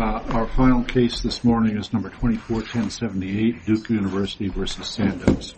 Our final case this morning is number 241078, Duke University v. Sandoz.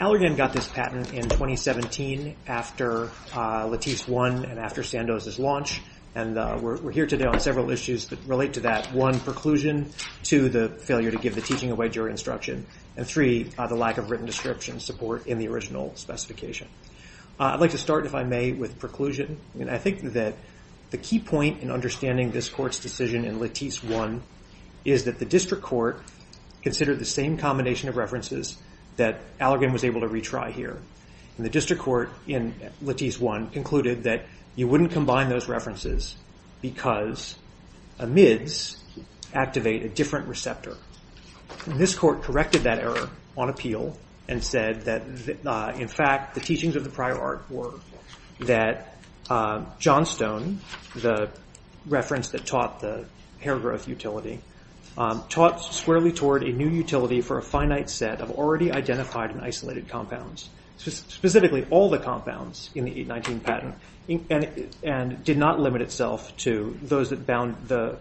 Allergan got this patent in 2017 after Latisse won and after Sandoz's launch, and we're here today on several issues that relate to that. One, preclusion. Two, the failure to give the teaching away during instruction. And three, the lack of written description support in the original specification. I'd like to start, if I may, with preclusion. I think that the key point in understanding this court's decision in Latisse 1 is that the district court considered the same combination of references that Allergan was able to retry here. And the district court in Latisse 1 concluded that you wouldn't combine those references because amids activate a different receptor. And this court corrected that error on appeal and said that, in fact, the teachings of the prior art were that Johnstone, the reference that taught the hair growth utility, taught squarely toward a new utility for a finite set of already identified and isolated compounds. Specifically all the compounds in the 819 patent, and did not limit itself to those that bound the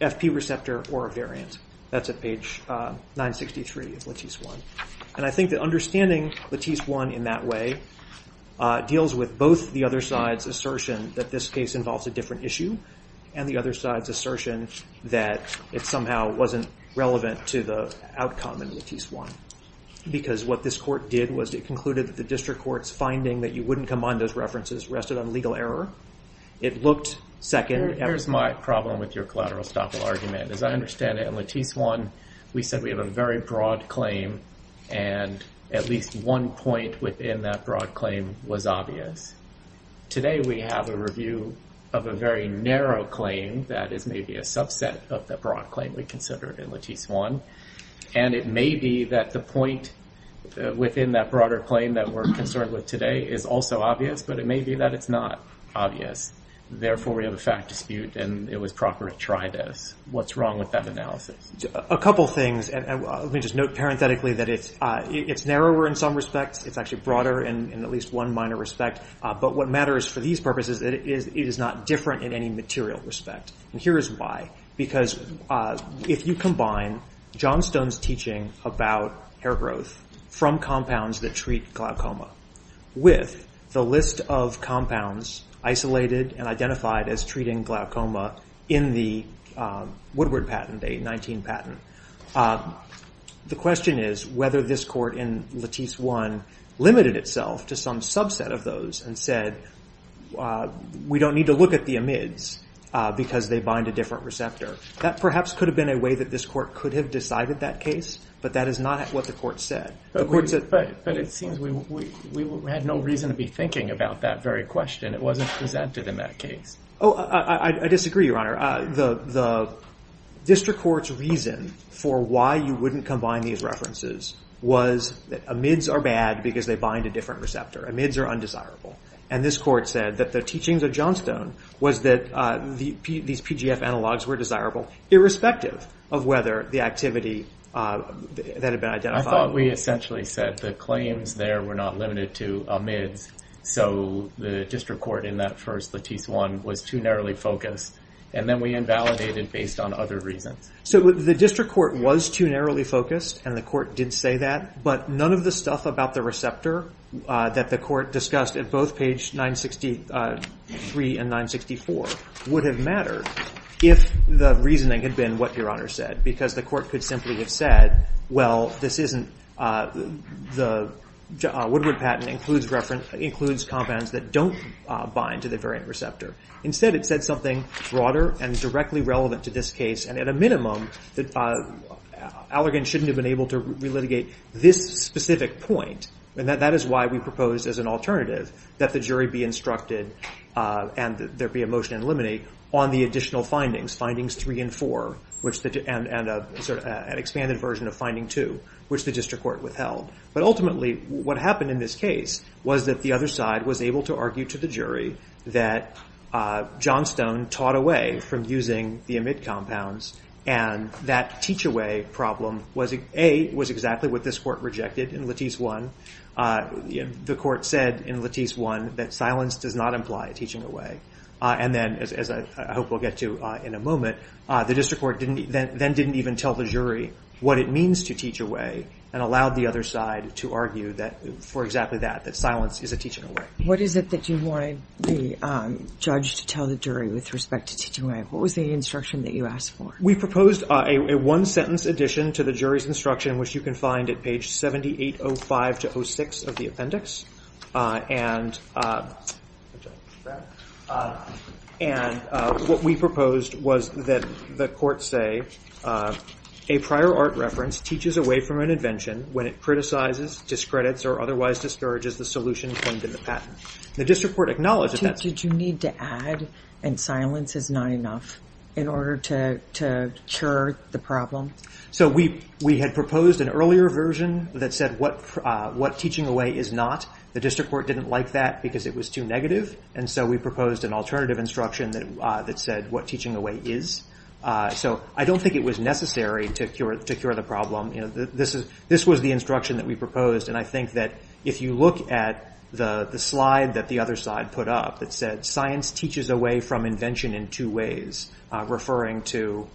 FP receptor or a variant. That's at page 963 of Latisse 1. And I think that understanding Latisse 1 in that way deals with both the other side's assertion that this case involves a different issue, and the other side's assertion that it somehow wasn't relevant to the outcome in Latisse 1. Because what this court did was it concluded that the district court's finding that you wouldn't combine those references rested on legal error. It looked second. Here's my problem with your collateral estoppel argument. As I understand it, in Latisse 1, we said we have a very broad claim, and at least one point within that broad claim was obvious. Today we have a review of a very narrow claim that is maybe a subset of the broad claim we considered in Latisse 1. And it may be that the point within that broader claim that we're concerned with today is also obvious, but it may be that it's not obvious. Therefore we have a fact dispute, and it was proper to try this. What's wrong with that analysis? A couple things. Let me just note parenthetically that it's narrower in some respects. It's actually broader in at least one minor respect. But what matters for these purposes is it is not different in any material respect. Here's why. Because if you combine John Stone's teaching about hair growth from compounds that treat glaucoma with the list of compounds isolated and identified as treating glaucoma in the Woodward patent, a 19 patent, the question is whether this court in Latisse 1 limited itself to some subset of those and said, we don't need to look at the amids because they bind a different receptor. That perhaps could have been a way that this court could have decided that case, but that is not what the court said. But it seems we had no reason to be thinking about that very question. It wasn't presented in that case. Oh, I disagree, Your Honor. The district court's reason for why you wouldn't combine these references was that amids are bad because they bind a different receptor. Amids are undesirable. And this court said that the teachings of John Stone was that these PGF analogs were desirable irrespective of whether the activity that had been identified. I thought we essentially said the claims there were not limited to amids. So the district court in that first Latisse 1 was too narrowly focused. And then we invalidated based on other reasons. So the district court was too narrowly focused, and the court did say that. But none of the stuff about the receptor that the court discussed at both page 963 and 964 would have mattered if the reasoning had been what Your Honor said. Because the court could simply have said, well, the Woodward patent includes compounds that don't bind to the variant receptor. Instead, it said something broader and directly relevant to this case. And at a minimum, Allergan shouldn't have been able to relitigate this specific point. And that is why we proposed as an alternative that the jury be instructed and there be a motion to eliminate on the additional findings, findings 3 and 4, and an expanded version of finding 2, which the district court withheld. But ultimately, what happened in this case was that the other side was able to argue to the jury that Johnstone taught away from using the amid compounds. And that teach-away problem, A, was exactly what this court rejected in Latisse 1. The court said in Latisse 1 that silence does not imply teaching away. And then, as I hope we'll get to in a moment, the district court then didn't even tell the jury what it means to teach away and allowed the other side to argue that for exactly that, that silence is a teaching away. What is it that you wanted the judge to tell the jury with respect to teaching away? What was the instruction that you asked for? We proposed a one-sentence addition to the jury's instruction, which you can find at page 7805 to 06 of the appendix. And what we proposed was that the court say, a prior art reference teaches away from an invention when it criticizes, discredits, or otherwise discourages the solution claimed in the patent. The district court acknowledged that. Did you need to add, and silence is not enough, in order to cure the problem? So we had proposed an earlier version that said what teaching away is not. The district court didn't like that because it was too negative. And so we proposed an alternative instruction that said what teaching away is. So I don't think it was necessary to cure the problem. This was the instruction that we proposed. And I think that if you look at the slide that the other side put up that said, science teaches away from invention in two ways, referring to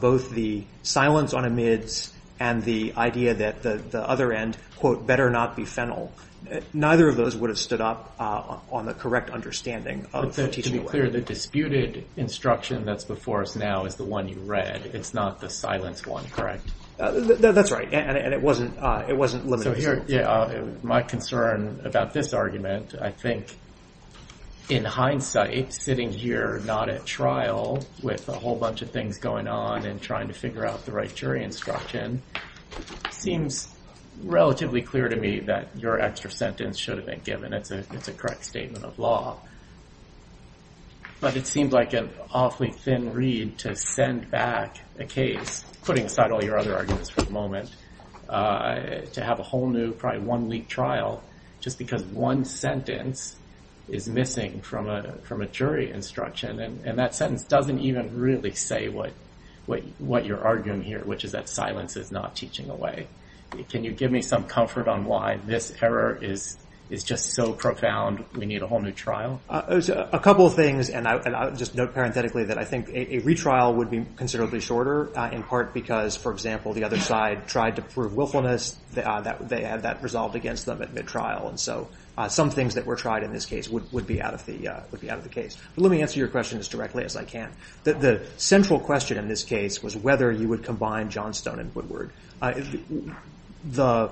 both the silence on amidst and the idea that the other end, quote, better not be fennel. Neither of those would have stood up on the correct understanding of teaching away. To be clear, the disputed instruction that's before us now is the one you read. It's not the silence one, correct? That's right, and it wasn't limited to that. My concern about this argument, I think, in hindsight, sitting here not at trial with a whole bunch of things going on and trying to figure out the right jury instruction, seems relatively clear to me that your extra sentence should have been given, it's a correct statement of law. But it seems like an awfully thin reed to send back a case, putting aside all your other arguments for the moment, to have a whole new, probably one week trial, just because one sentence is missing from a jury instruction. And that sentence doesn't even really say what you're arguing here, which is that silence is not teaching away. Can you give me some comfort on why this error is just so profound we need a whole new trial? A couple of things, and I'll just note parenthetically that I think a retrial would be considerably shorter, in part because, for example, the other side tried to prove willfulness. They had that resolved against them at mid-trial. And so some things that were tried in this case would be out of the case. But let me answer your question as directly as I can. The central question in this case was whether you would combine Johnstone and The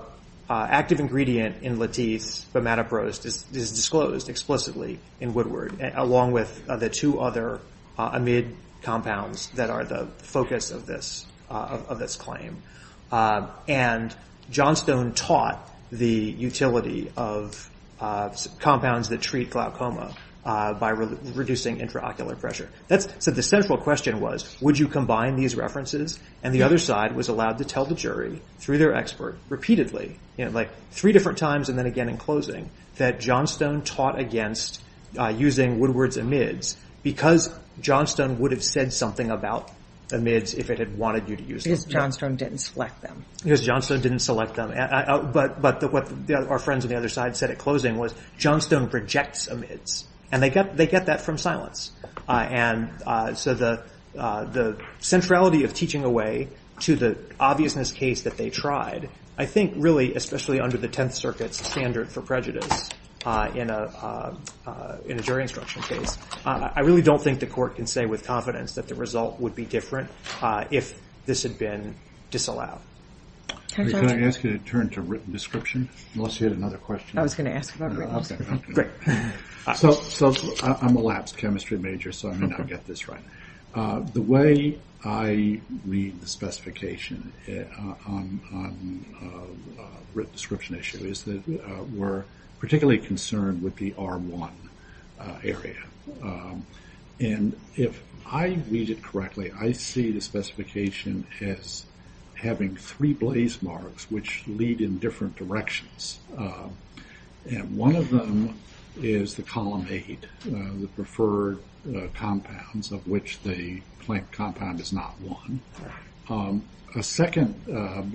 active ingredient in Lateef's bimatoprost is disclosed explicitly in Woodward, along with the two other amid compounds that are the focus of this claim. And Johnstone taught the utility of compounds that treat glaucoma by reducing intraocular pressure. So the central question was, would you combine these references? And the other side was allowed to tell the jury, through their expert, repeatedly, three different times and then again in closing, that Johnstone taught against using Woodward's amids because Johnstone would have said something about amids if it had wanted you to use them. Because Johnstone didn't select them. Because Johnstone didn't select them. But what our friends on the other side said at closing was, Johnstone rejects amids. And they get that from silence. And so the centrality of teaching away to the obviousness case that they tried, I think really, especially under the Tenth Circuit's standard for prejudice in a jury instruction case, I really don't think the court can say with confidence that the result would be different if this had been disallowed. Can I ask you to turn to written description? Unless you had another question. I was going to ask about written description. Great. So I'm a labs chemistry major, so I may not get this right. The way I read the specification on written description issue is that we're particularly concerned with the R1 area. And if I read it correctly, I see the specification as having three blaze marks, which lead in different directions. And one of them is the column eight, the preferred compounds, of which the plank compound is not one. A second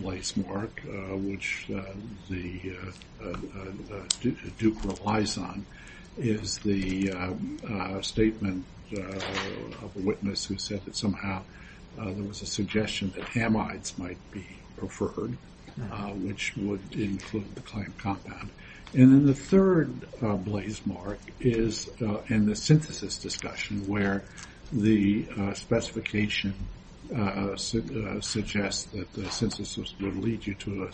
blaze mark, which Duke relies on, is the statement of a witness who said that somehow there was a suggestion that hamides might be preferred, which would include the plank compound. And then the third blaze mark is in the synthesis discussion, where the specification suggests that the synthesis would lead you to a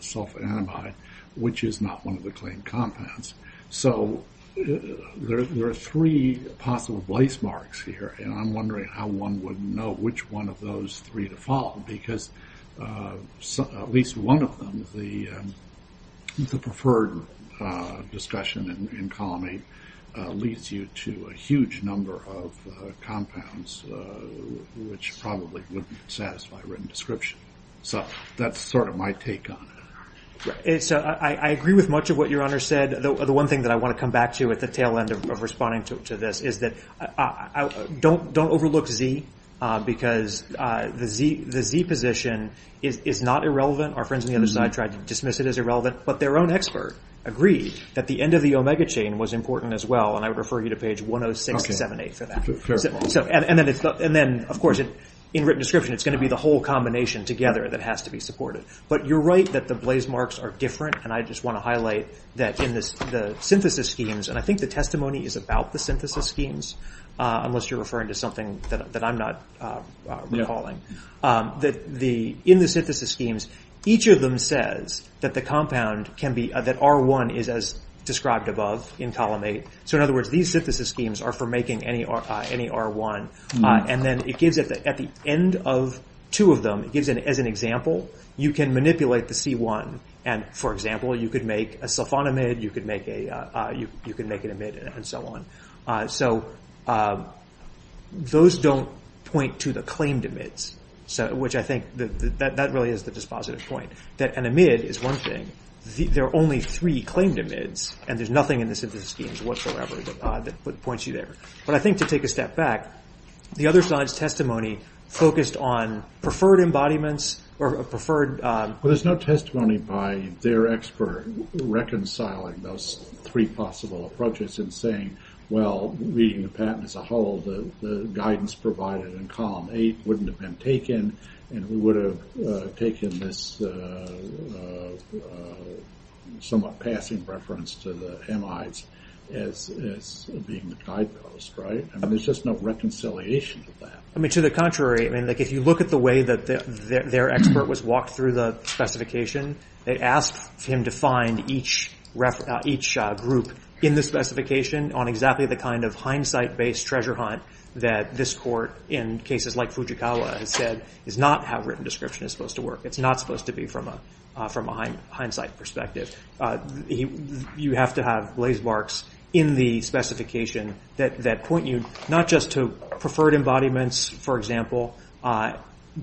sulfanamide, which is not one of the plank compounds. So there are three possible blaze marks here. And I'm wondering how one would know which one of those three to follow, because at least one of them, the preferred discussion in column eight, leads you to a huge number of compounds, which probably wouldn't satisfy written description. So that's sort of my take on it. I agree with much of what your Honor said. The one thing that I want to come back to at the tail end of responding to this is that don't overlook Z, because the Z position is not irrelevant. Our friends on the other side tried to dismiss it as irrelevant, but their own expert agreed that the end of the omega chain was important as well. And I would refer you to page 106 to 107 for that. And then, of course, in written description, it's going to be the whole combination together that has to be supported. But you're right that the blaze marks are different. And I just want to highlight that in the synthesis schemes, and I think the testimony is about the synthesis schemes, unless you're referring to something that I'm not recalling, that in the synthesis schemes, each of them says that the compound can be, that R1 is as described above in column eight. So in other words, these synthesis schemes are for making any R1. And then it gives at the end of two of them, it gives as an example, you can manipulate the C1. And, for example, you could make a sulfonamide, you could make an amide, and so on. So those don't point to the claimed amides, which I think that really is the dispositive point. That an amide is one thing, there are only three claimed amides, and there's nothing in the synthesis schemes whatsoever that points you there. But I think to take a step back, the other side's testimony focused on preferred embodiments, or preferred... Well, there's no testimony by their expert reconciling those three possible approaches and saying, well, reading the patent as a whole, the guidance provided in column eight wouldn't have been taken, and we would have taken this somewhat passing reference to the amides as being the guidepost, right? I mean, there's just no reconciliation of that. I mean, to the contrary. I mean, if you look at the way that their expert was walked through the specification, they asked him to find each group in the specification on exactly the kind of hindsight-based treasure hunt that this court in cases like Fujikawa has said is not how written description is supposed to work. It's not supposed to be from a hindsight perspective. You have to have blaze marks in the specification that point you not just to preferred embodiments, for example,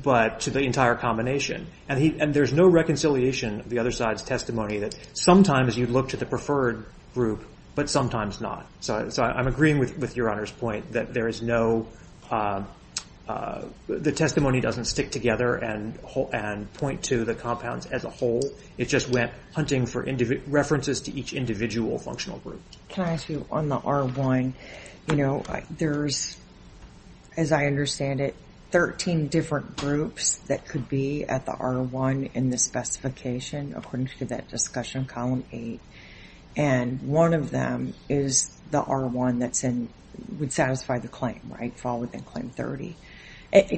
but to the entire combination. And there's no reconciliation of the other side's testimony that sometimes you look to the preferred group, but sometimes not. So I'm agreeing with Your Honor's point that there is no... The testimony doesn't stick together and point to the compounds as a whole. It just went hunting for references to each individual functional group. Can I ask you on the R1, you know, there's, as I understand it, 13 different groups that could be at the R1 in the specification according to that discussion column eight. And one of them is the R1 that would satisfy the claim, right? Fall within claim 30.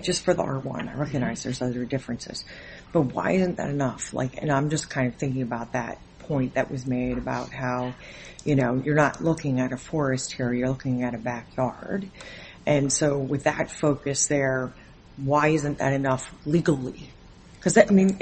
Just for the R1, I recognize there's other differences. But why isn't that enough? And I'm just kind of thinking about that point that was made about how, you know, you're not looking at a forest here. You're looking at a backyard. And so with that focus there, why isn't that enough legally? Because, I mean,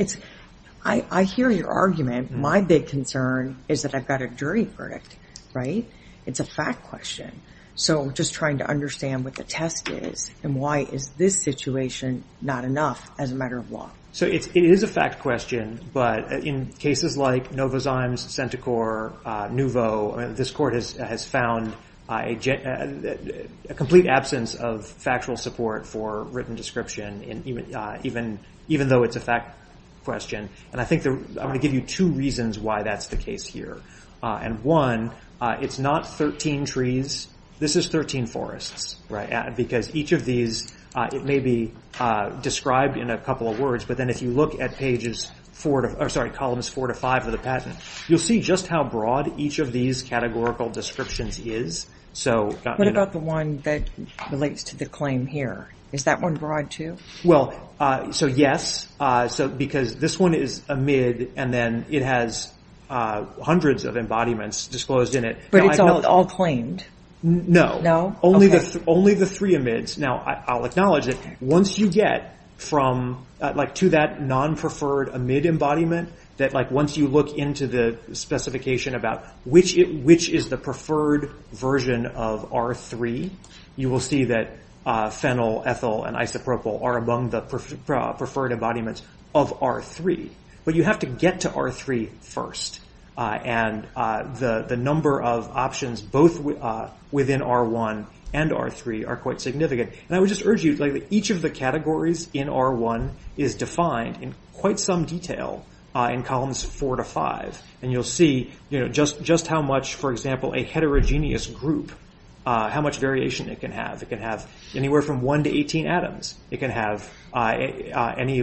I hear your argument. My big concern is that I've got a dirty verdict, right? It's a fact question. So just trying to understand what the test is and why is this situation not enough as a matter of law. So it is a fact question. But in cases like Novozymes, Centochor, Nouveau, this court has found a complete absence of factual support for written description, even though it's a fact question. And I think I'm going to give you two reasons why that's the case here. And one, it's not 13 trees. This is 13 forests. Because each of these, it may be described in a couple of words, but then if you look at Columns 4 to 5 of the patent, you'll see just how broad each of these categorical descriptions is. What about the one that relates to the claim here? Is that one broad too? Well, so yes, because this one is amid, and then it has hundreds of embodiments disclosed in it. But it's all claimed? No, only the three amids. Now, I'll acknowledge that once you get to that non-preferred amid embodiment, that once you look into the specification about which is the preferred version of R3, you will see that phenyl, ethyl, and isopropyl are among the preferred embodiments of R3. But you have to get to R3 first. And the number of options both within R1 and R3 are quite significant. And I would just urge you, each of the categories in R1 is defined in quite some detail in Columns 4 to 5. And you'll see just how much, for example, a heterogeneous group, how much variation it can have. It can have anywhere from 1 to 18 atoms. It can have any,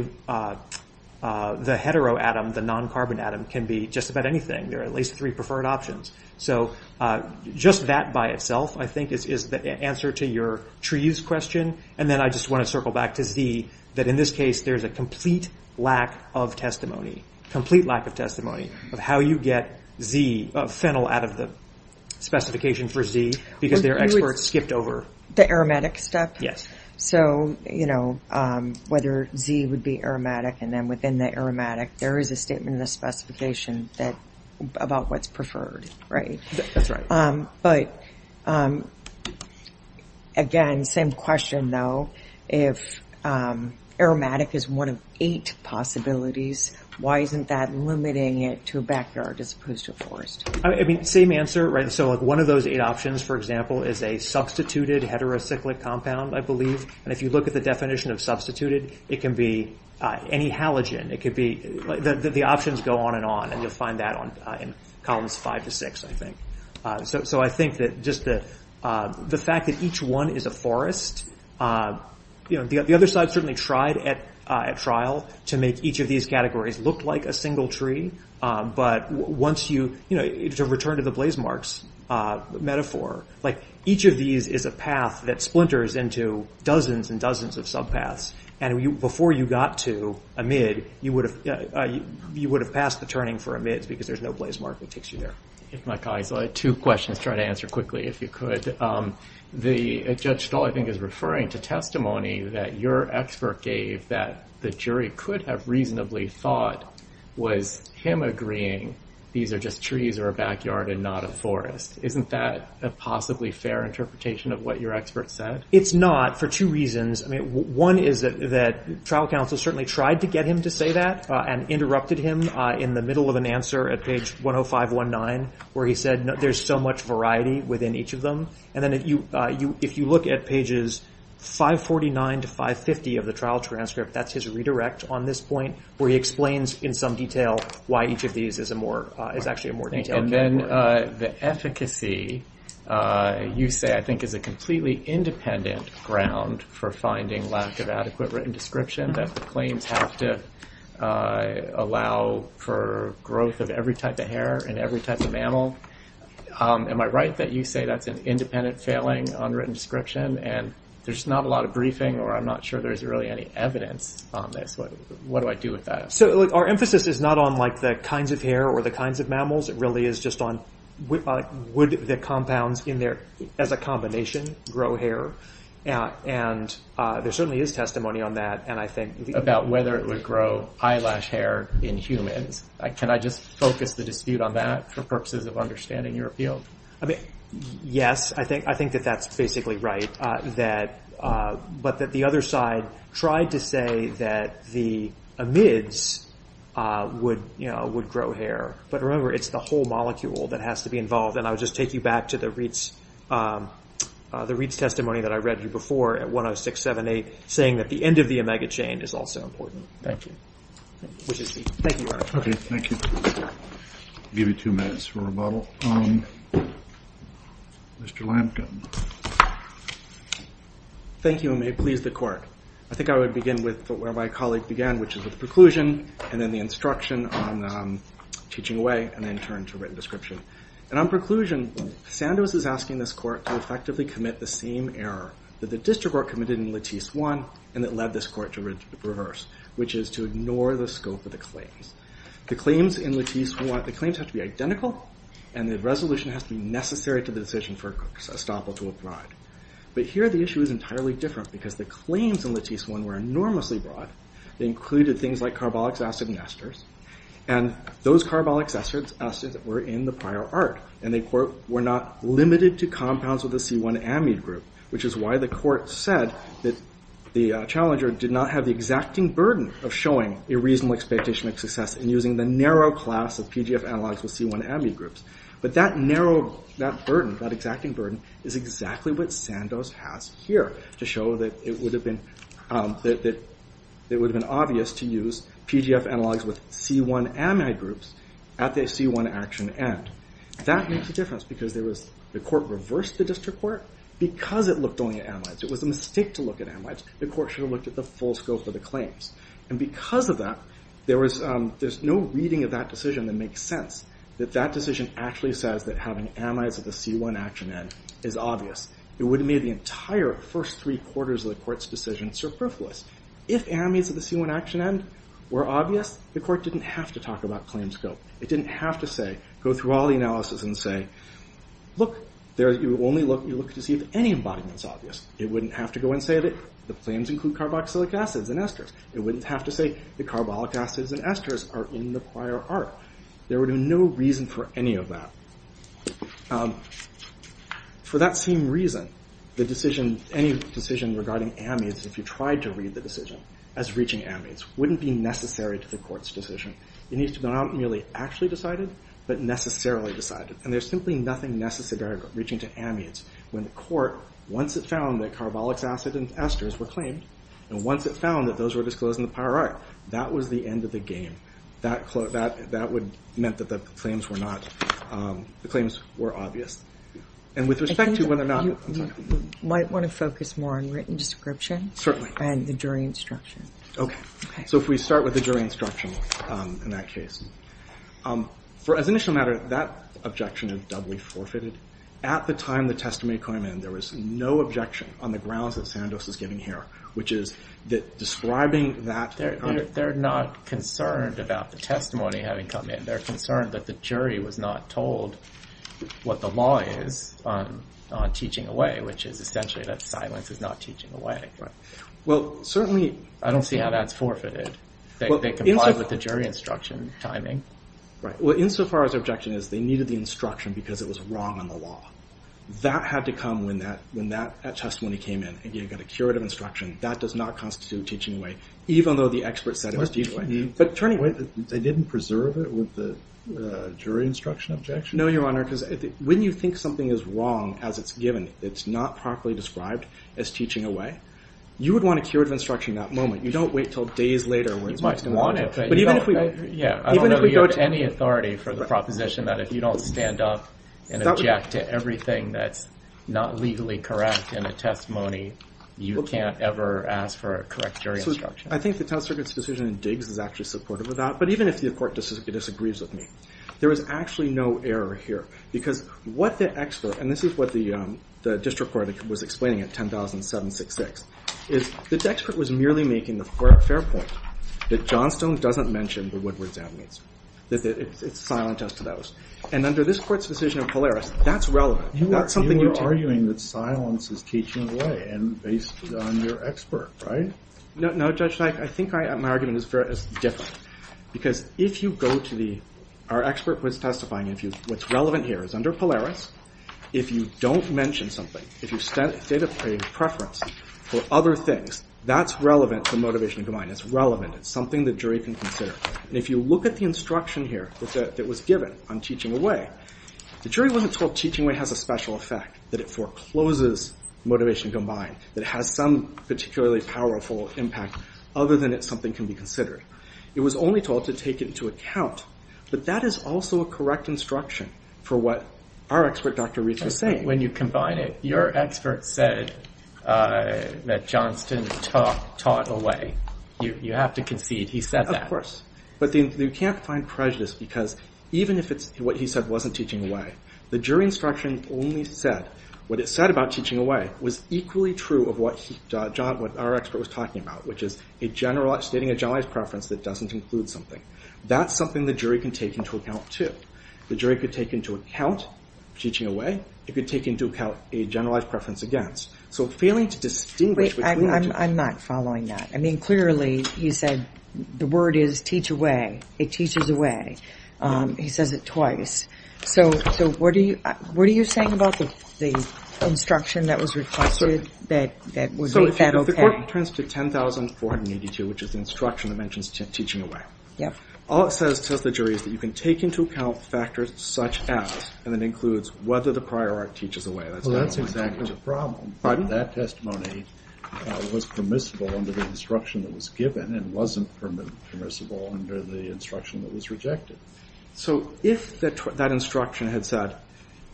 the hetero atom, the non-carbon atom, can be just about anything. There are at least three preferred options. So just that by itself, I think, is the answer to your tree use question. And then I just want to circle back to Z, that in this case, there's a complete lack of testimony, complete lack of testimony, of how you get phenyl out of the specification for Z, because there are experts skipped over. The aromatic step? So, you know, whether Z would be aromatic and then within the aromatic, there is a statement in the specification about what's preferred, right? That's right. But, again, same question, though. If aromatic is one of eight possibilities, why isn't that limiting it to a backyard as opposed to a forest? I mean, same answer, right? So one of those eight options, for example, is a substituted heterocyclic compound, I believe. And if you look at the definition of substituted, it can be any halogen. It could be, the options go on and on, and you'll find that in columns five to six, I think. So I think that just the fact that each one is a forest, the other side certainly tried at trial to make each of these categories look like a single tree. But once you, you know, to return to the blazemarks metaphor, like each of these is a path that splinters into dozens and dozens of subpaths. And before you got to amide, you would have passed the turning for amides, because there's no blazemark that takes you there. My colleagues, I had two questions. I'll try to answer quickly, if you could. Judge Stahl, I think, is referring to testimony that your expert gave that the jury could have reasonably thought was him agreeing these are just trees or a backyard and not a forest. Isn't that a possibly fair interpretation of what your expert said? It's not for two reasons. I mean, one is that trial counsel certainly tried to get him to say that and interrupted him in the middle of an answer at page 10519, where he said there's so much variety within each of them. And then if you look at pages 549 to 550 of the trial transcript, that's his redirect on this point, where he explains in some detail why each of these is actually a more detailed category. And then the efficacy, you say, I think, is a completely independent ground for finding lack of adequate written description, that the claims have to allow for growth of every type of hair in every type of mammal. Am I right that you say that's an independent failing on written description and there's not a lot of briefing or I'm not sure there's really any evidence on this? What do I do with that? Our emphasis is not on the kinds of hair or the kinds of mammals. It really is just on would the compounds in there as a combination grow hair? And there certainly is testimony on that, and I think about whether it would grow eyelash hair in humans. Can I just focus the dispute on that for purposes of understanding your appeal? Yes, I think that that's basically right, but that the other side tried to say that the amides would grow hair. But remember, it's the whole molecule that has to be involved, and I would just take you back to the Reeds testimony that I read you before at 10678, saying that the end of the omega chain is also important. Thank you. Okay, thank you. I'll give you two minutes for rebuttal. Mr. Lampkin. Thank you, and may it please the Court. I think I would begin with where my colleague began, which is the preclusion and then the instruction on teaching away, and then turn to written description. And on preclusion, Sandoz is asking this Court to effectively commit the same error that the district court committed in Lattice 1 and that led this Court to reverse, which is to ignore the scope of the claims. The claims in Lattice 1 have to be identical, and the resolution has to be necessary to the decision for Estoppel to apply. But here the issue is entirely different, because the claims in Lattice 1 were enormously broad. They included things like carbolic acid and esters, and those carbolic acids were in the prior art, and they, quote, were not limited to compounds with a C1 amide group, which is why the Court said that the challenger did not have the exacting burden of showing a reasonable expectation of success in using the narrow class of PGF analogs with C1 amide groups. But that narrow, that burden, that exacting burden, is exactly what Sandoz has here to show that it would have been obvious to use PGF analogs with C1 amide groups at the C1 action end. That makes a difference, because the Court reversed the district court because it looked only at amides. It was a mistake to look at amides. The Court should have looked at the full scope of the claims. And because of that, there's no reading of that decision that makes sense, that that decision actually says that having amides at the C1 action end is obvious. It would have made the entire first three quarters of the Court's decision superfluous. If amides at the C1 action end were obvious, the Court didn't have to talk about claim scope. It didn't have to say, go through all the analysis and say, look, you only look to see if any embodiment is obvious. It wouldn't have to go and say that the claims include carboxylic acids and esters. It wouldn't have to say that carbolic acids and esters are in the prior art. There would be no reason for any of that. For that same reason, any decision regarding amides, if you tried to read the decision as reaching amides, wouldn't be necessary to the Court's decision. It needs to be not merely actually decided, but necessarily decided. And there's simply nothing necessary about reaching to amides. When the Court, once it found that carbolic acids and esters were claimed, and once it found that those were disclosed in the prior art, that was the end of the game. That would have meant that the claims were not, the claims were obvious. And with respect to whether or not, I'm sorry. You might want to focus more on written description. And the jury instruction. Okay. So if we start with the jury instruction in that case. For as initial matter, that objection is doubly forfeited. At the time the testimony came in, there was no objection on the grounds that Sandoz is giving here, which is that describing that... They're not concerned about the testimony having come in. They're concerned that the jury was not told what the law is on teaching away, which is essentially that silence is not teaching away. Well, certainly... I don't see how that's forfeited. They complied with the jury instruction timing. Well, insofar as the objection is they needed the instruction because it was wrong on the law. That had to come when that testimony came in. Again, you've got a curative instruction. That does not constitute teaching away, even though the expert said it was teaching away. But turning away, they didn't preserve it with the jury instruction objection? No, Your Honor, because when you think something is wrong as it's given, it's not properly described as teaching away. You would want a curative instruction in that moment. You don't wait until days later where it's not... You might want it, but you don't... I don't know that you have any authority for the proposition that if you don't stand up and object to everything that's not legally correct in a testimony, you can't ever ask for a correct jury instruction. I think the Tenth Circuit's decision in Diggs is actually supportive of that. But even if the court disagrees with me, there is actually no error here because what the expert... And this is what the district court was explaining at 10,766. This expert was merely making the fair point that Johnstone doesn't mention the Woodward's amnesty, that it's silent as to those. And under this court's decision of Polaris, that's relevant. You were arguing that silence is teaching away and based on your expert, right? No, Judge Sike, I think my argument is different. Because if you go to the... Our expert was testifying. What's relevant here is under Polaris, if you don't mention something, if you state a preference for other things, that's relevant to motivation combined. It's relevant. It's something the jury can consider. And if you look at the instruction here that was given on teaching away, the jury wasn't told teaching away has a special effect, that it forecloses motivation combined, that it has some particularly powerful impact other than it's something that can be considered. It was only told to take it into account. But that is also a correct instruction for what our expert, Dr. Reitz, was saying. When you combine it, your expert said that Johnston taught away. You have to concede he said that. Of course. But you can't find prejudice because even if what he said wasn't teaching away, the jury instruction only said... What it said about teaching away was equally true of what our expert was talking about, which is stating a generalized preference that doesn't include something. That's something the jury can take into account too. The jury could take into account teaching away. It could take into account a generalized preference against. So failing to distinguish... Wait, I'm not following that. I mean, clearly he said the word is teach away. It teaches away. He says it twice. So what are you saying about the instruction that was requested that would make that okay? So if the court turns to 10482, which is the instruction that mentions teaching away, all it says to the jury is that you can take into account factors such as... And it includes whether the prior art teaches away. Well, that's exactly the problem. That testimony was permissible under the instruction that was given and wasn't permissible under the instruction that was rejected. So if that instruction had said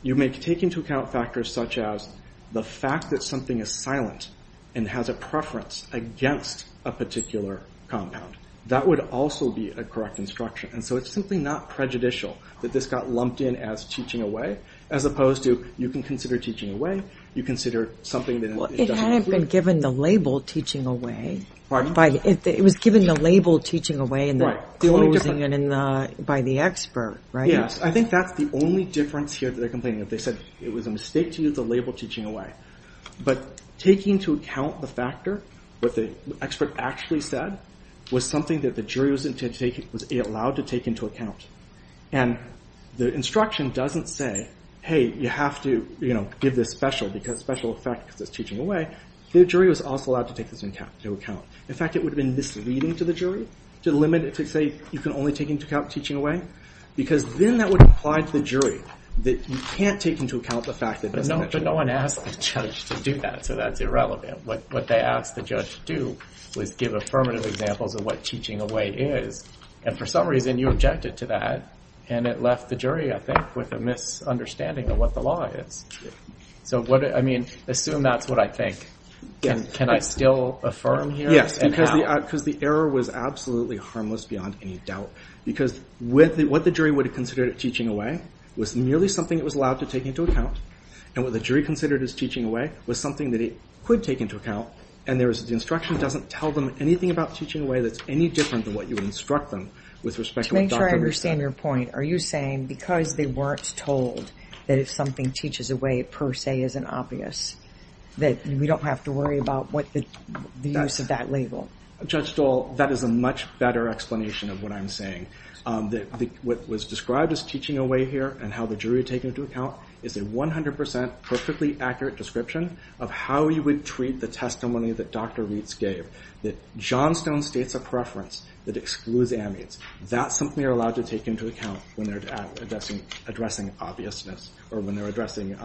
you may take into account factors such as the fact that something is silent and has a preference against a particular compound, that would also be a correct instruction. And so it's simply not prejudicial that this got lumped in as teaching away as opposed to you can consider teaching away, you consider something that... Well, it hadn't been given the label teaching away. Pardon? It was given the label teaching away in the closing by the expert, right? Yes, I think that's the only difference here that they're complaining of. They said it was a mistake to use the label teaching away. But taking into account the factor what the expert actually said was something that the jury was allowed to take into account. And the instruction doesn't say, hey, you have to give this special effect because it's teaching away. The jury was also allowed to take this into account. In fact, it would have been misleading to the jury to limit it to say you can only take into account teaching away because then that would imply to the jury that you can't take into account the fact that... But no one asked the judge to do that, so that's irrelevant. What they asked the judge to do was give affirmative examples of what teaching away is. And for some reason you objected to that and it left the jury, I think, with a misunderstanding of what the law is. So, I mean, assume that's what I think. Can I still affirm here? Yes, because the error was absolutely harmless beyond any doubt because what the jury would have considered teaching away was merely something it was allowed to take into account. And what the jury considered as teaching away was something that it could take into account. And the instruction doesn't tell them anything about teaching away that's any different than what you instruct them with respect to what doctor... To make sure I understand your point, are you saying because they weren't told that if something teaches away per se isn't obvious that we don't have to worry about the use of that label? Judge Dole, that is a much better explanation of what I'm saying. What was described as teaching away here and how the jury would take it into account is a 100% perfectly accurate description of how you would treat the testimony that Dr. Reitz gave, that Johnstone states a preference that excludes amates. That's something you're allowed to take into account when they're addressing obviousness. Or when they're addressing...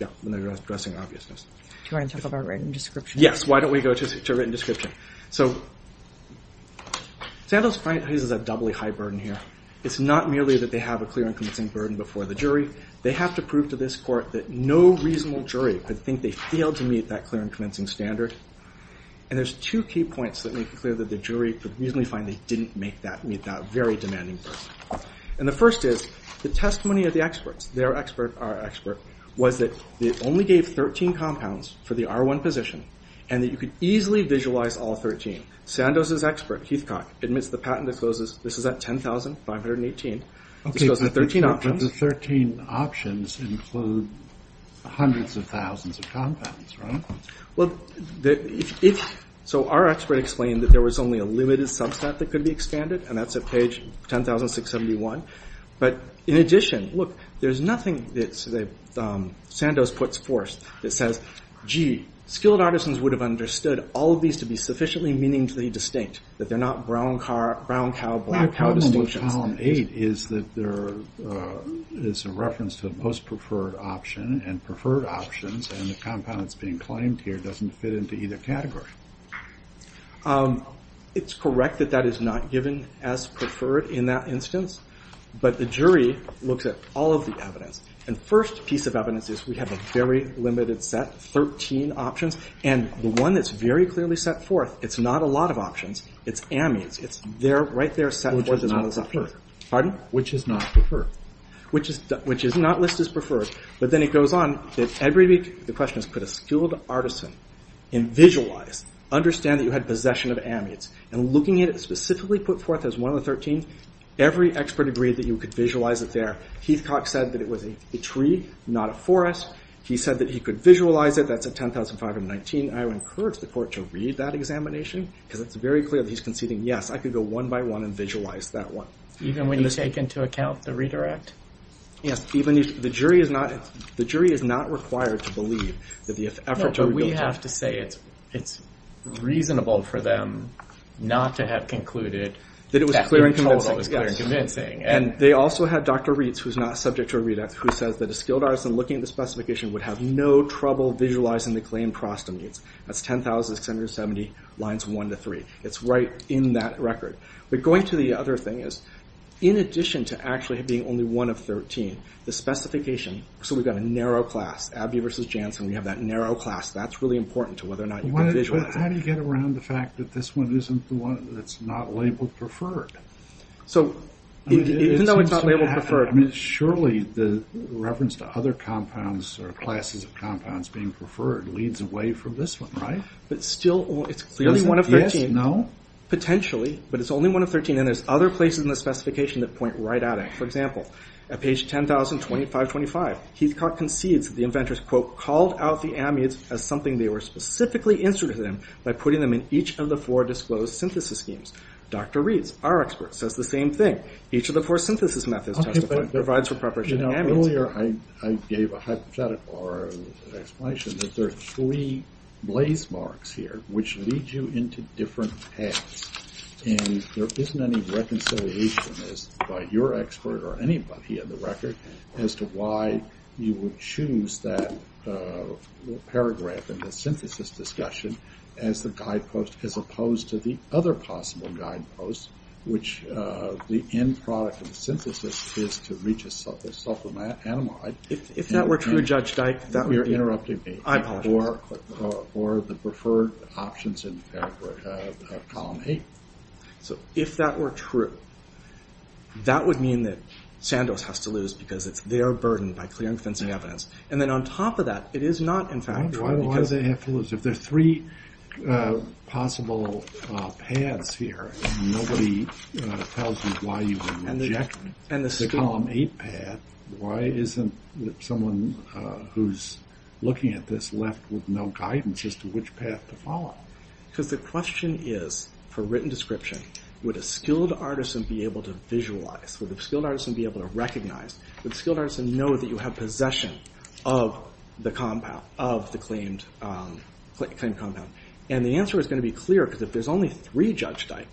Yeah, when they're addressing obviousness. Do you want to talk about written description? Yes, why don't we go to written description? So, Sandals' client has a doubly high burden here. It's not merely that they have a clear and convincing burden before the jury. They have to prove to this court that no reasonable jury could think they failed to meet that clear and convincing standard. And there's two key points that make it clear that the jury could reasonably find they didn't meet that very demanding burden. And the first is the testimony of the experts, their expert, our expert, was that they only gave 13 compounds for the R1 position and that you could easily visualize all 13. Sandals' expert, Heathcock, admits the patent discloses this is at 10,518, discloses the 13 options. None of the 13 options include hundreds of thousands of compounds, right? Well, if... So our expert explained that there was only a limited subset that could be expanded, and that's at page 10,671. But in addition, look, there's nothing that Sandals puts forth that says, gee, skilled artisans would have understood all of these to be sufficiently meaningfully distinct, that they're not brown cowboy distinctions. The column 8 is that there is a reference to the most preferred option, and preferred options, and the compound that's being claimed here doesn't fit into either category. It's correct that that is not given as preferred in that instance, but the jury looks at all of the evidence. And the first piece of evidence is we have a very limited set, 13 options, and the one that's very clearly set forth, it's not a lot of options, it's amides, it's right there set forth as one of the options. Pardon? Which is not preferred. Which is not listed as preferred. But then it goes on that every... The question is, put a skilled artisan in visualize, understand that you had possession of amides, and looking at it specifically put forth as one of the 13, every expert agreed that you could visualize it there. Heathcock said that it was a tree, not a forest. He said that he could visualize it. That's at 10,519. I would encourage the court to read that examination, because it's very clear that he's conceding, yes, I could go one by one and visualize that one. Even when you take into account the redirect? Yes. The jury is not required to believe that the effort to... No, we have to say it's reasonable for them not to have concluded that their total was clear and convincing. And they also had Dr. Reitz, who's not subject to a redact, who says that a skilled artisan looking at the specification would have no trouble visualizing the claimed prostamides. That's 10,670 lines 1 to 3. It's right in that record. But going to the other thing is, in addition to actually being only one of 13, the specification, so we've got a narrow class, Abbey v. Janssen, we have that narrow class. That's really important to whether or not you can visualize that. But how do you get around the fact that this one isn't the one that's not labeled preferred? So even though it's not labeled preferred... Surely the reference to other compounds or classes of compounds being preferred leads away from this one, right? But still, it's clearly one of 13. Yes, no? Potentially, but it's only one of 13, and there's other places in the specification that point right at it. For example, at page 10,000, 2525, Heathcock concedes that the inventors quote, called out the amides as something they were specifically interested in by putting them in each of the four disclosed synthesis schemes. Dr. Reitz, our expert, says the same thing. Each of the four synthesis methods testifies. Provides for preparation of amides. Earlier, I gave a hypothetical or an explanation that there are three blaze marks here, which lead you into different paths. And there isn't any reconciliation by your expert or anybody in the record as to why you would choose that paragraph in the synthesis discussion as the guidepost as opposed to the other possible guidepost, which the end product of the synthesis is to reach a supplement animal. If that were true, Judge Dyke, you're interrupting me. I apologize. Or the preferred options in column eight. So if that were true, that would mean that Sandoz has to lose because it's their burden by clearing fencing evidence. And then on top of that, it is not, in fact, true. Why do they have to lose? If there are three possible paths here, nobody tells you why you would reject the column eight path. Why isn't someone who's looking at this left with no guidance as to which path to follow? Because the question is, for written description, would a skilled artisan be able to visualize? Would a skilled artisan be able to recognize? Would a skilled artisan know that you have possession of the compound, of the claimed compound? And the answer is going to be clear because if there's only three Judge Dyke,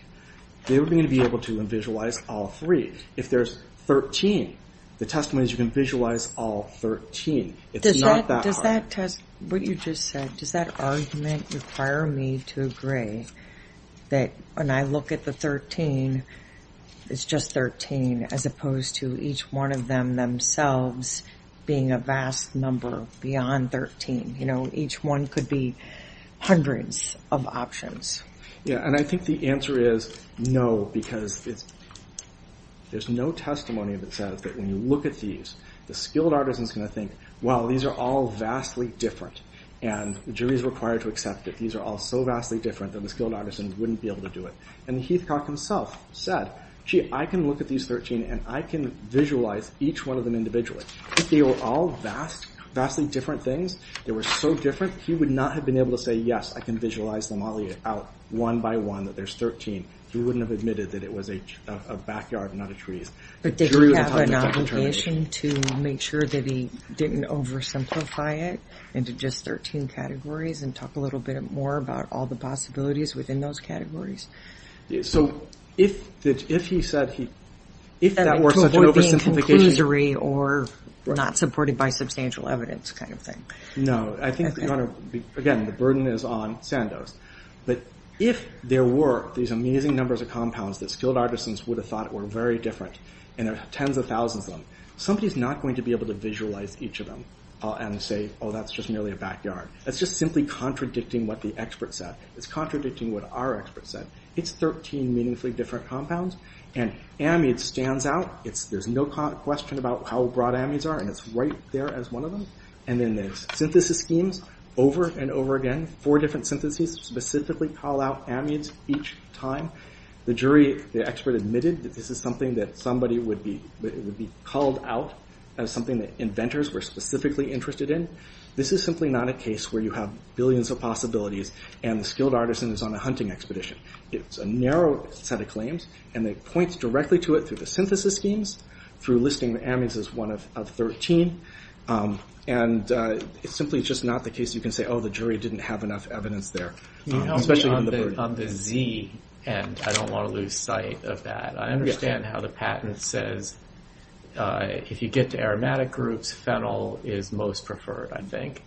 they would be able to visualize all three. If there's 13, the testimony is you can visualize all 13. It's not that hard. Does that test what you just said, does that argument require me to agree that when I look at the 13, it's just 13, as opposed to each one of them themselves being a vast number beyond 13? Each one could be hundreds of options. Yeah, and I think the answer is no because there's no testimony that says that when you look at these, the skilled artisan's going to think, well, these are all vastly different and the jury's required to accept that these are all so vastly different that the skilled artisans wouldn't be able to do it. And Heathcock himself said, gee, I can look at these 13 and I can visualize each one of them individually. They were all vastly different things. They were so different, he would not have been able to say, yes, I can visualize them all out one by one, that there's 13. He wouldn't have admitted that it was a backyard, not a tree. But didn't he have an obligation to make sure that he didn't oversimplify it into just 13 categories and talk a little bit more about all the possibilities within those categories? So if he said he, if that were such an oversimplification. Conclusory or not supported by substantial evidence kind of thing. No, I think, again, the burden is on Sandoz. But if there were these amazing numbers of compounds that skilled artisans would have thought were very different and there were tens of thousands of them, somebody's not going to be able to visualize each of them and say, oh, that's just merely a backyard. That's just simply contradicting what the expert said. It's contradicting what our expert said. It's 13 meaningfully different compounds and amide stands out. There's no question about how broad amides are and it's right there as one of them. And then there's synthesis schemes over and over again. Four different syntheses specifically call out amides each time. The jury, the expert admitted that this is something that somebody would be, that it would be called out as something that inventors were specifically interested in. This is simply not a case where you have billions of possibilities and the skilled artisan is on a hunting expedition. It's a narrow set of claims and it points directly to it through the synthesis schemes, through listing the amides as one of 13. And it's simply just not the case you can say, oh, the jury didn't have enough evidence there. Especially on the Z and I don't want to lose sight of that. I understand how the patent says if you get to aromatic groups, fennel is most preferred, I think.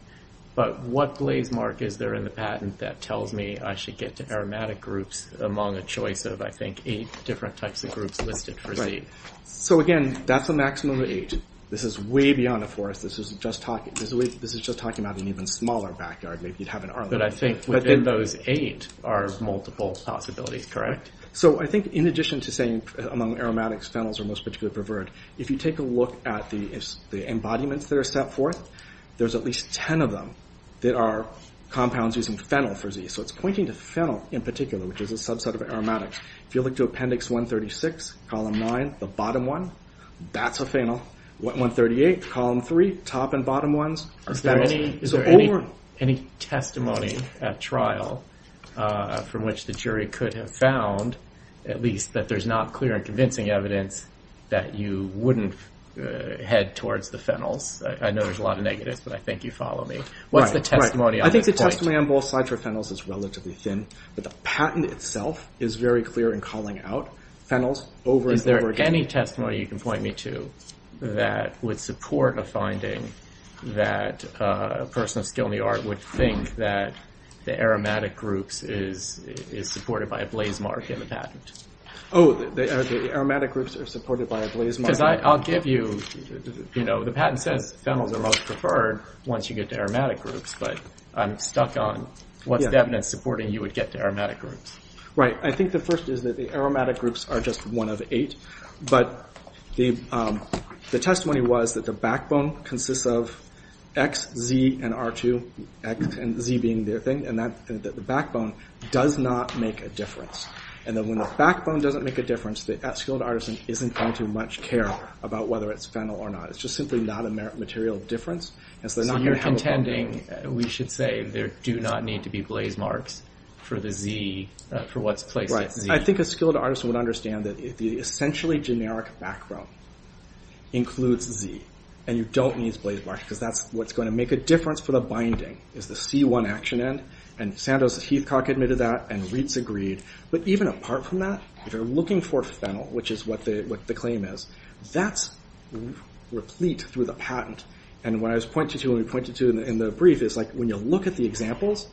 But what blaze mark is there in the patent that tells me I should get to aromatic groups among a choice of, I think, eight different types of groups listed for Z? So again, that's a maximum of eight. This is way beyond a forest. This is just talking about an even smaller backyard. Maybe you'd have an Arlen. But I think within those eight are multiple possibilities, correct? So I think in addition to saying among aromatics, fennels are most particularly preferred. If you take a look at the embodiments that are set forth, there's at least 10 of them that are compounds using fennel for Z. So it's pointing to fennel in particular, which is a subset of aromatics. If you look to appendix 136, column nine, the bottom one, that's a fennel. 138, column three, top and bottom ones are fennels. Is there any testimony at trial from which the jury could have found at least that there's not clear and convincing evidence that you wouldn't head towards the fennels? I know there's a lot of negatives, but I think you follow me. What's the testimony on that point? I think the testimony on both sides for fennels is relatively thin. But the patent itself is very clear in calling out fennels over and over again. Is there any testimony you can point me to that would support a finding that a person of skill in the art would think that the aromatic groups is supported by a blaze mark in the patent? Oh, the aromatic groups are supported by a blaze mark? Because I'll give you, you know, the patent says fennels are most preferred once you get to aromatic groups, but I'm stuck on what's the evidence supporting you would get to aromatic groups. Right, I think the first is that the aromatic groups are just one of eight, but the testimony was that the backbone consists of X, Z, and R2, X and Z being their thing, and that the backbone does not make a difference. And then when the backbone doesn't make a difference, the skilled artisan isn't going to much care about whether it's fennel or not. It's just simply not a material difference. So you're contending, we should say, there do not need to be blaze marks for what's placed at Z? Right, I think a skilled artisan would understand that the essentially generic backbone includes Z, and you don't need blaze marks, because that's what's going to make a difference for the binding, is the C1 action end, and Sandoz-Heathcock admitted that, and Reitz agreed, but even apart from that, if you're looking for fennel, which is what the claim is, that's replete through the patent. And what I was pointing to, and we pointed to in the brief, is like when you look at the examples,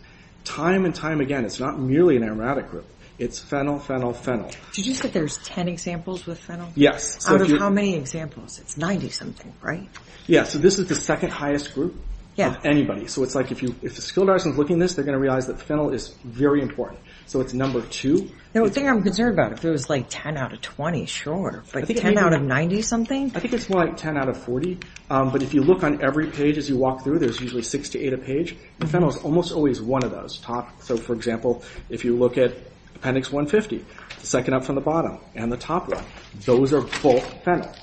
time and time again, it's not merely an aromatic group, it's fennel, fennel, fennel. Did you say there's 10 examples with fennel? Yes. Out of how many examples? It's 90-something, right? Yeah, so this is the second highest group of anybody. So it's like if a skilled artisan's looking at this, they're going to realize that fennel is very important. So it's number two. The thing I'm concerned about, if it was like 10 out of 20, sure, but 10 out of 90-something? I think it's more like 10 out of 40, but if you look on every page as you walk through, there's usually six to eight a page, and fennel is almost always one of those top, so for example, if you look at appendix 150, second up from the bottom, and the top one, those are both fennel.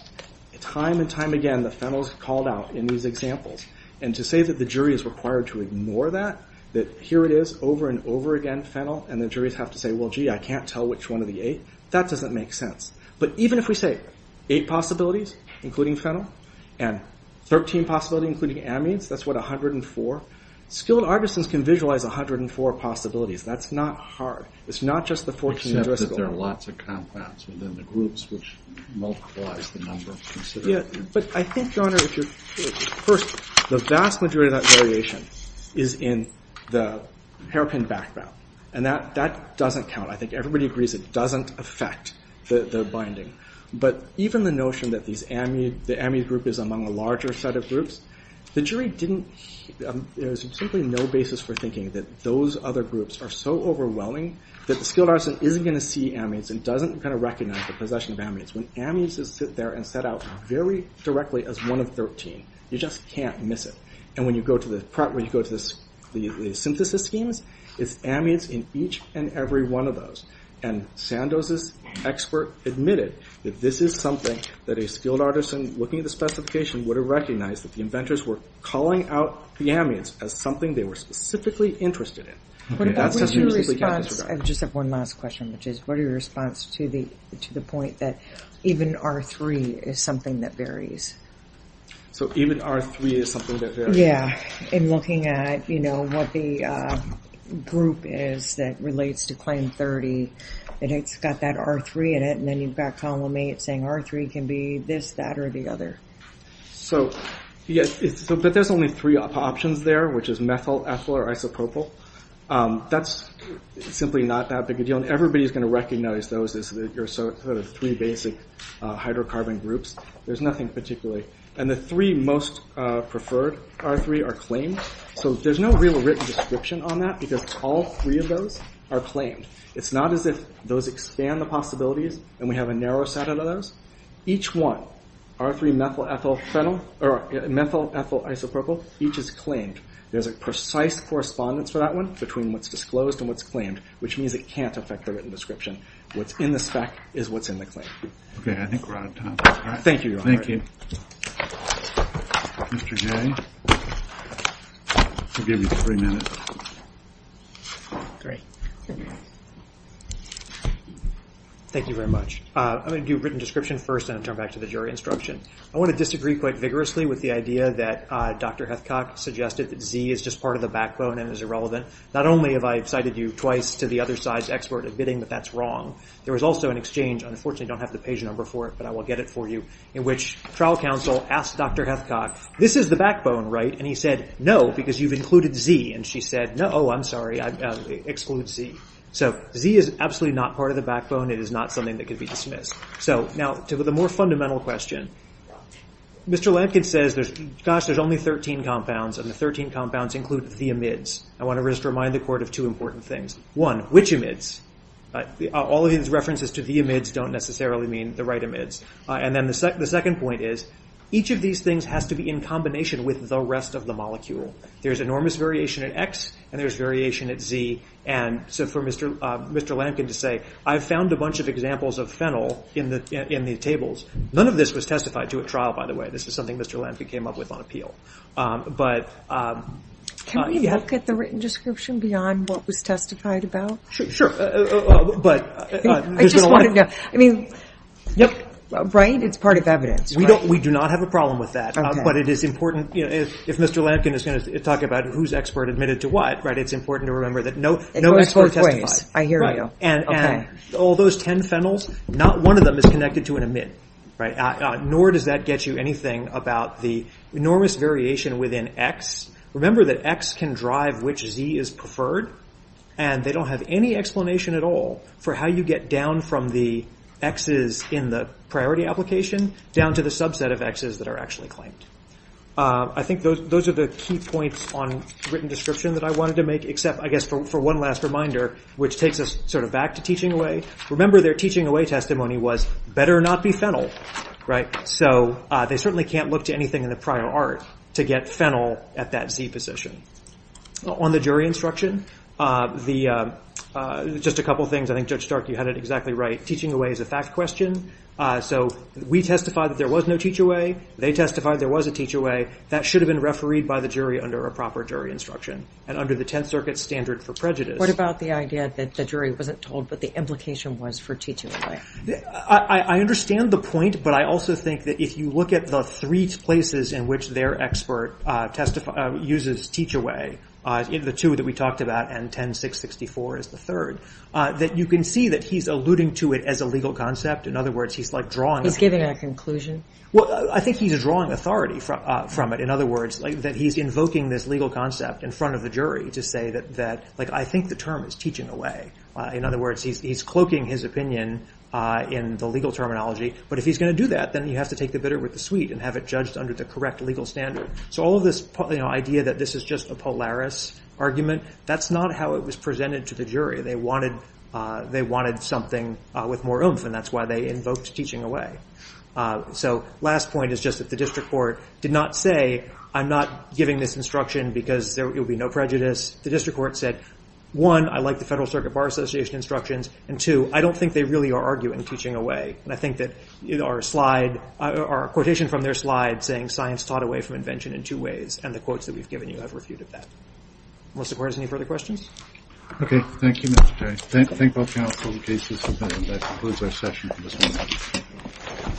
Time and time again, the fennel's called out in these examples, and to say that the jury is required to ignore that, that here it is, over and over again, fennel, and the juries have to say, well, gee, I can't tell which one of the eight, that doesn't make sense. But even if we say eight possibilities, including fennel, and 13 possibilities, including amines, that's what, 104? Skilled artisans can visualize 104 possibilities. That's not hard. It's not just the 14 in Driscoll. Except that there are lots of compounds within the groups, which multiplies the number considerably. Yeah, but I think, Your Honor, first, the vast majority of that variation is in the hairpin background, and that doesn't count. I think everybody agrees it doesn't affect the binding. But even the notion that the amine group is among a larger set of groups, the jury didn't... There's simply no basis for thinking that those other groups are so overwhelming that the skilled artisan isn't going to see amines and doesn't recognize the possession of amines. When amines sit there and set out very directly as one of 13, you just can't miss it. And when you go to the synthesis schemes, it's amines in each and every one of those. And Sandoz's expert admitted that this is something that a skilled artisan, looking at the specification, would have recognized that the inventors were calling out the amines as something they were specifically interested in. What about your response... I just have one last question, which is, what is your response to the point that even R3 is something that varies? So even R3 is something that varies? Yeah. In looking at what the group is that relates to claim 30, it's got that R3 in it, and then you've got column 8 saying R3 can be this, that, or the other. But there's only three options there, which is methyl, ethyl, or isopropyl. That's simply not that big a deal, and everybody's going to recognize those as your sort of three basic hydrocarbon groups. There's nothing particularly... And the three most preferred R3 are claims, so there's no real written description on that because all three of those are claims. It's not as if those expand the possibilities and we have a narrow set of those. Each one, R3, methyl, ethyl, isopropyl, each is claimed. There's a precise correspondence for that one between what's disclosed and what's claimed, which means it can't affect the written description. What's in the spec is what's in the claim. Okay, I think we're out of time. Thank you, Your Honor. Mr. Jay, I'll give you three minutes. Great. Thank you very much. I'm going to do written description first and then turn back to the jury instruction. I want to disagree quite vigorously with the idea that Dr. Hethcock suggested that Z is just part of the backbone and is irrelevant. Not only have I cited you twice to the other side's expert admitting that that's wrong, there was also an exchange, unfortunately I don't have the page number for it, but I will get it for you, in which trial counsel asked Dr. Hethcock, this is the backbone, right? And he said, no, because you've included Z. And she said, no, I'm sorry, exclude Z. So Z is absolutely not part of the backbone. It is not something that could be dismissed. So now to the more fundamental question, Mr. Lampkin says, gosh, there's only 13 compounds and the 13 compounds include the amides. I want to just remind the court of two important things. One, which amides? All of these references to the amides don't necessarily mean the right amides. And then the second point is, each of these things has to be in combination with the rest of the molecule. There's enormous variation at X and there's variation at Z. And so for Mr. Lampkin to say, I've found a bunch of examples of phenyl in the tables. None of this was testified to at trial, by the way. This was something Mr. Lampkin came up with on appeal. But... Can we look at the written description beyond what was testified about? Sure. But... I just want to know. I mean... Yep. Right? It's part of evidence, right? We do not have a problem with that. But it is important... If Mr. Lampkin is going to talk about who's expert admitted to what, it's important to remember that no expert testified. It goes both ways. I hear you. And all those 10 phenyls, not one of them is connected to an amide. Nor does that get you anything about the enormous variation within X. Remember that X can drive which Z is preferred. And they don't have any explanation at all for how you get down from the X's in the priority application down to the subset of X's that are actually claimed. I think those are the key points on written description that I wanted to make, except, I guess, for one last reminder, which takes us sort of back to teaching away. Remember their teaching away testimony was better not be phenyl. So they certainly can't look to anything in the prior art to get phenyl at that Z position. On the jury instruction, just a couple things. I think Judge Stark, you had it exactly right. Teaching away is a fact question. So we testified that there was no teach away. They testified there was a teach away. That should have been refereed by the jury under a proper jury instruction and under the Tenth Circuit's standard for prejudice. What about the idea that the jury wasn't told what the implication was for teaching away? I understand the point, but I also think that if you look at the three places in which their expert uses teach away, the two that we talked about and 10664 is the third, that you can see that he's alluding to it as a legal concept. He's giving a conclusion? I think he's drawing authority from it. In other words, he's invoking this legal concept in front of the jury to say that I think the term is teaching away. In other words, he's cloaking his opinion in the legal terminology, but if he's going to do that, then you have to take the bitter with the sweet and have it judged under the correct legal standard. So all of this idea that this is just a Polaris argument, that's not how it was presented to the jury. They wanted something with more oomph, and that's why they invoked teaching away. Last point is just that the district court did not say, I'm not giving this instruction because it would be no prejudice. The district court said, one, I like the Federal Circuit Bar Association instructions, and two, I don't think they really are arguing teaching away, and I think that our quotation from their slide saying, science taught away from invention in two ways, and the quotes that we've given you have refuted that. Unless the court has any further questions? Okay, thank you Mr. Terry. Thank both counsel and cases for being here. That concludes our session for this morning.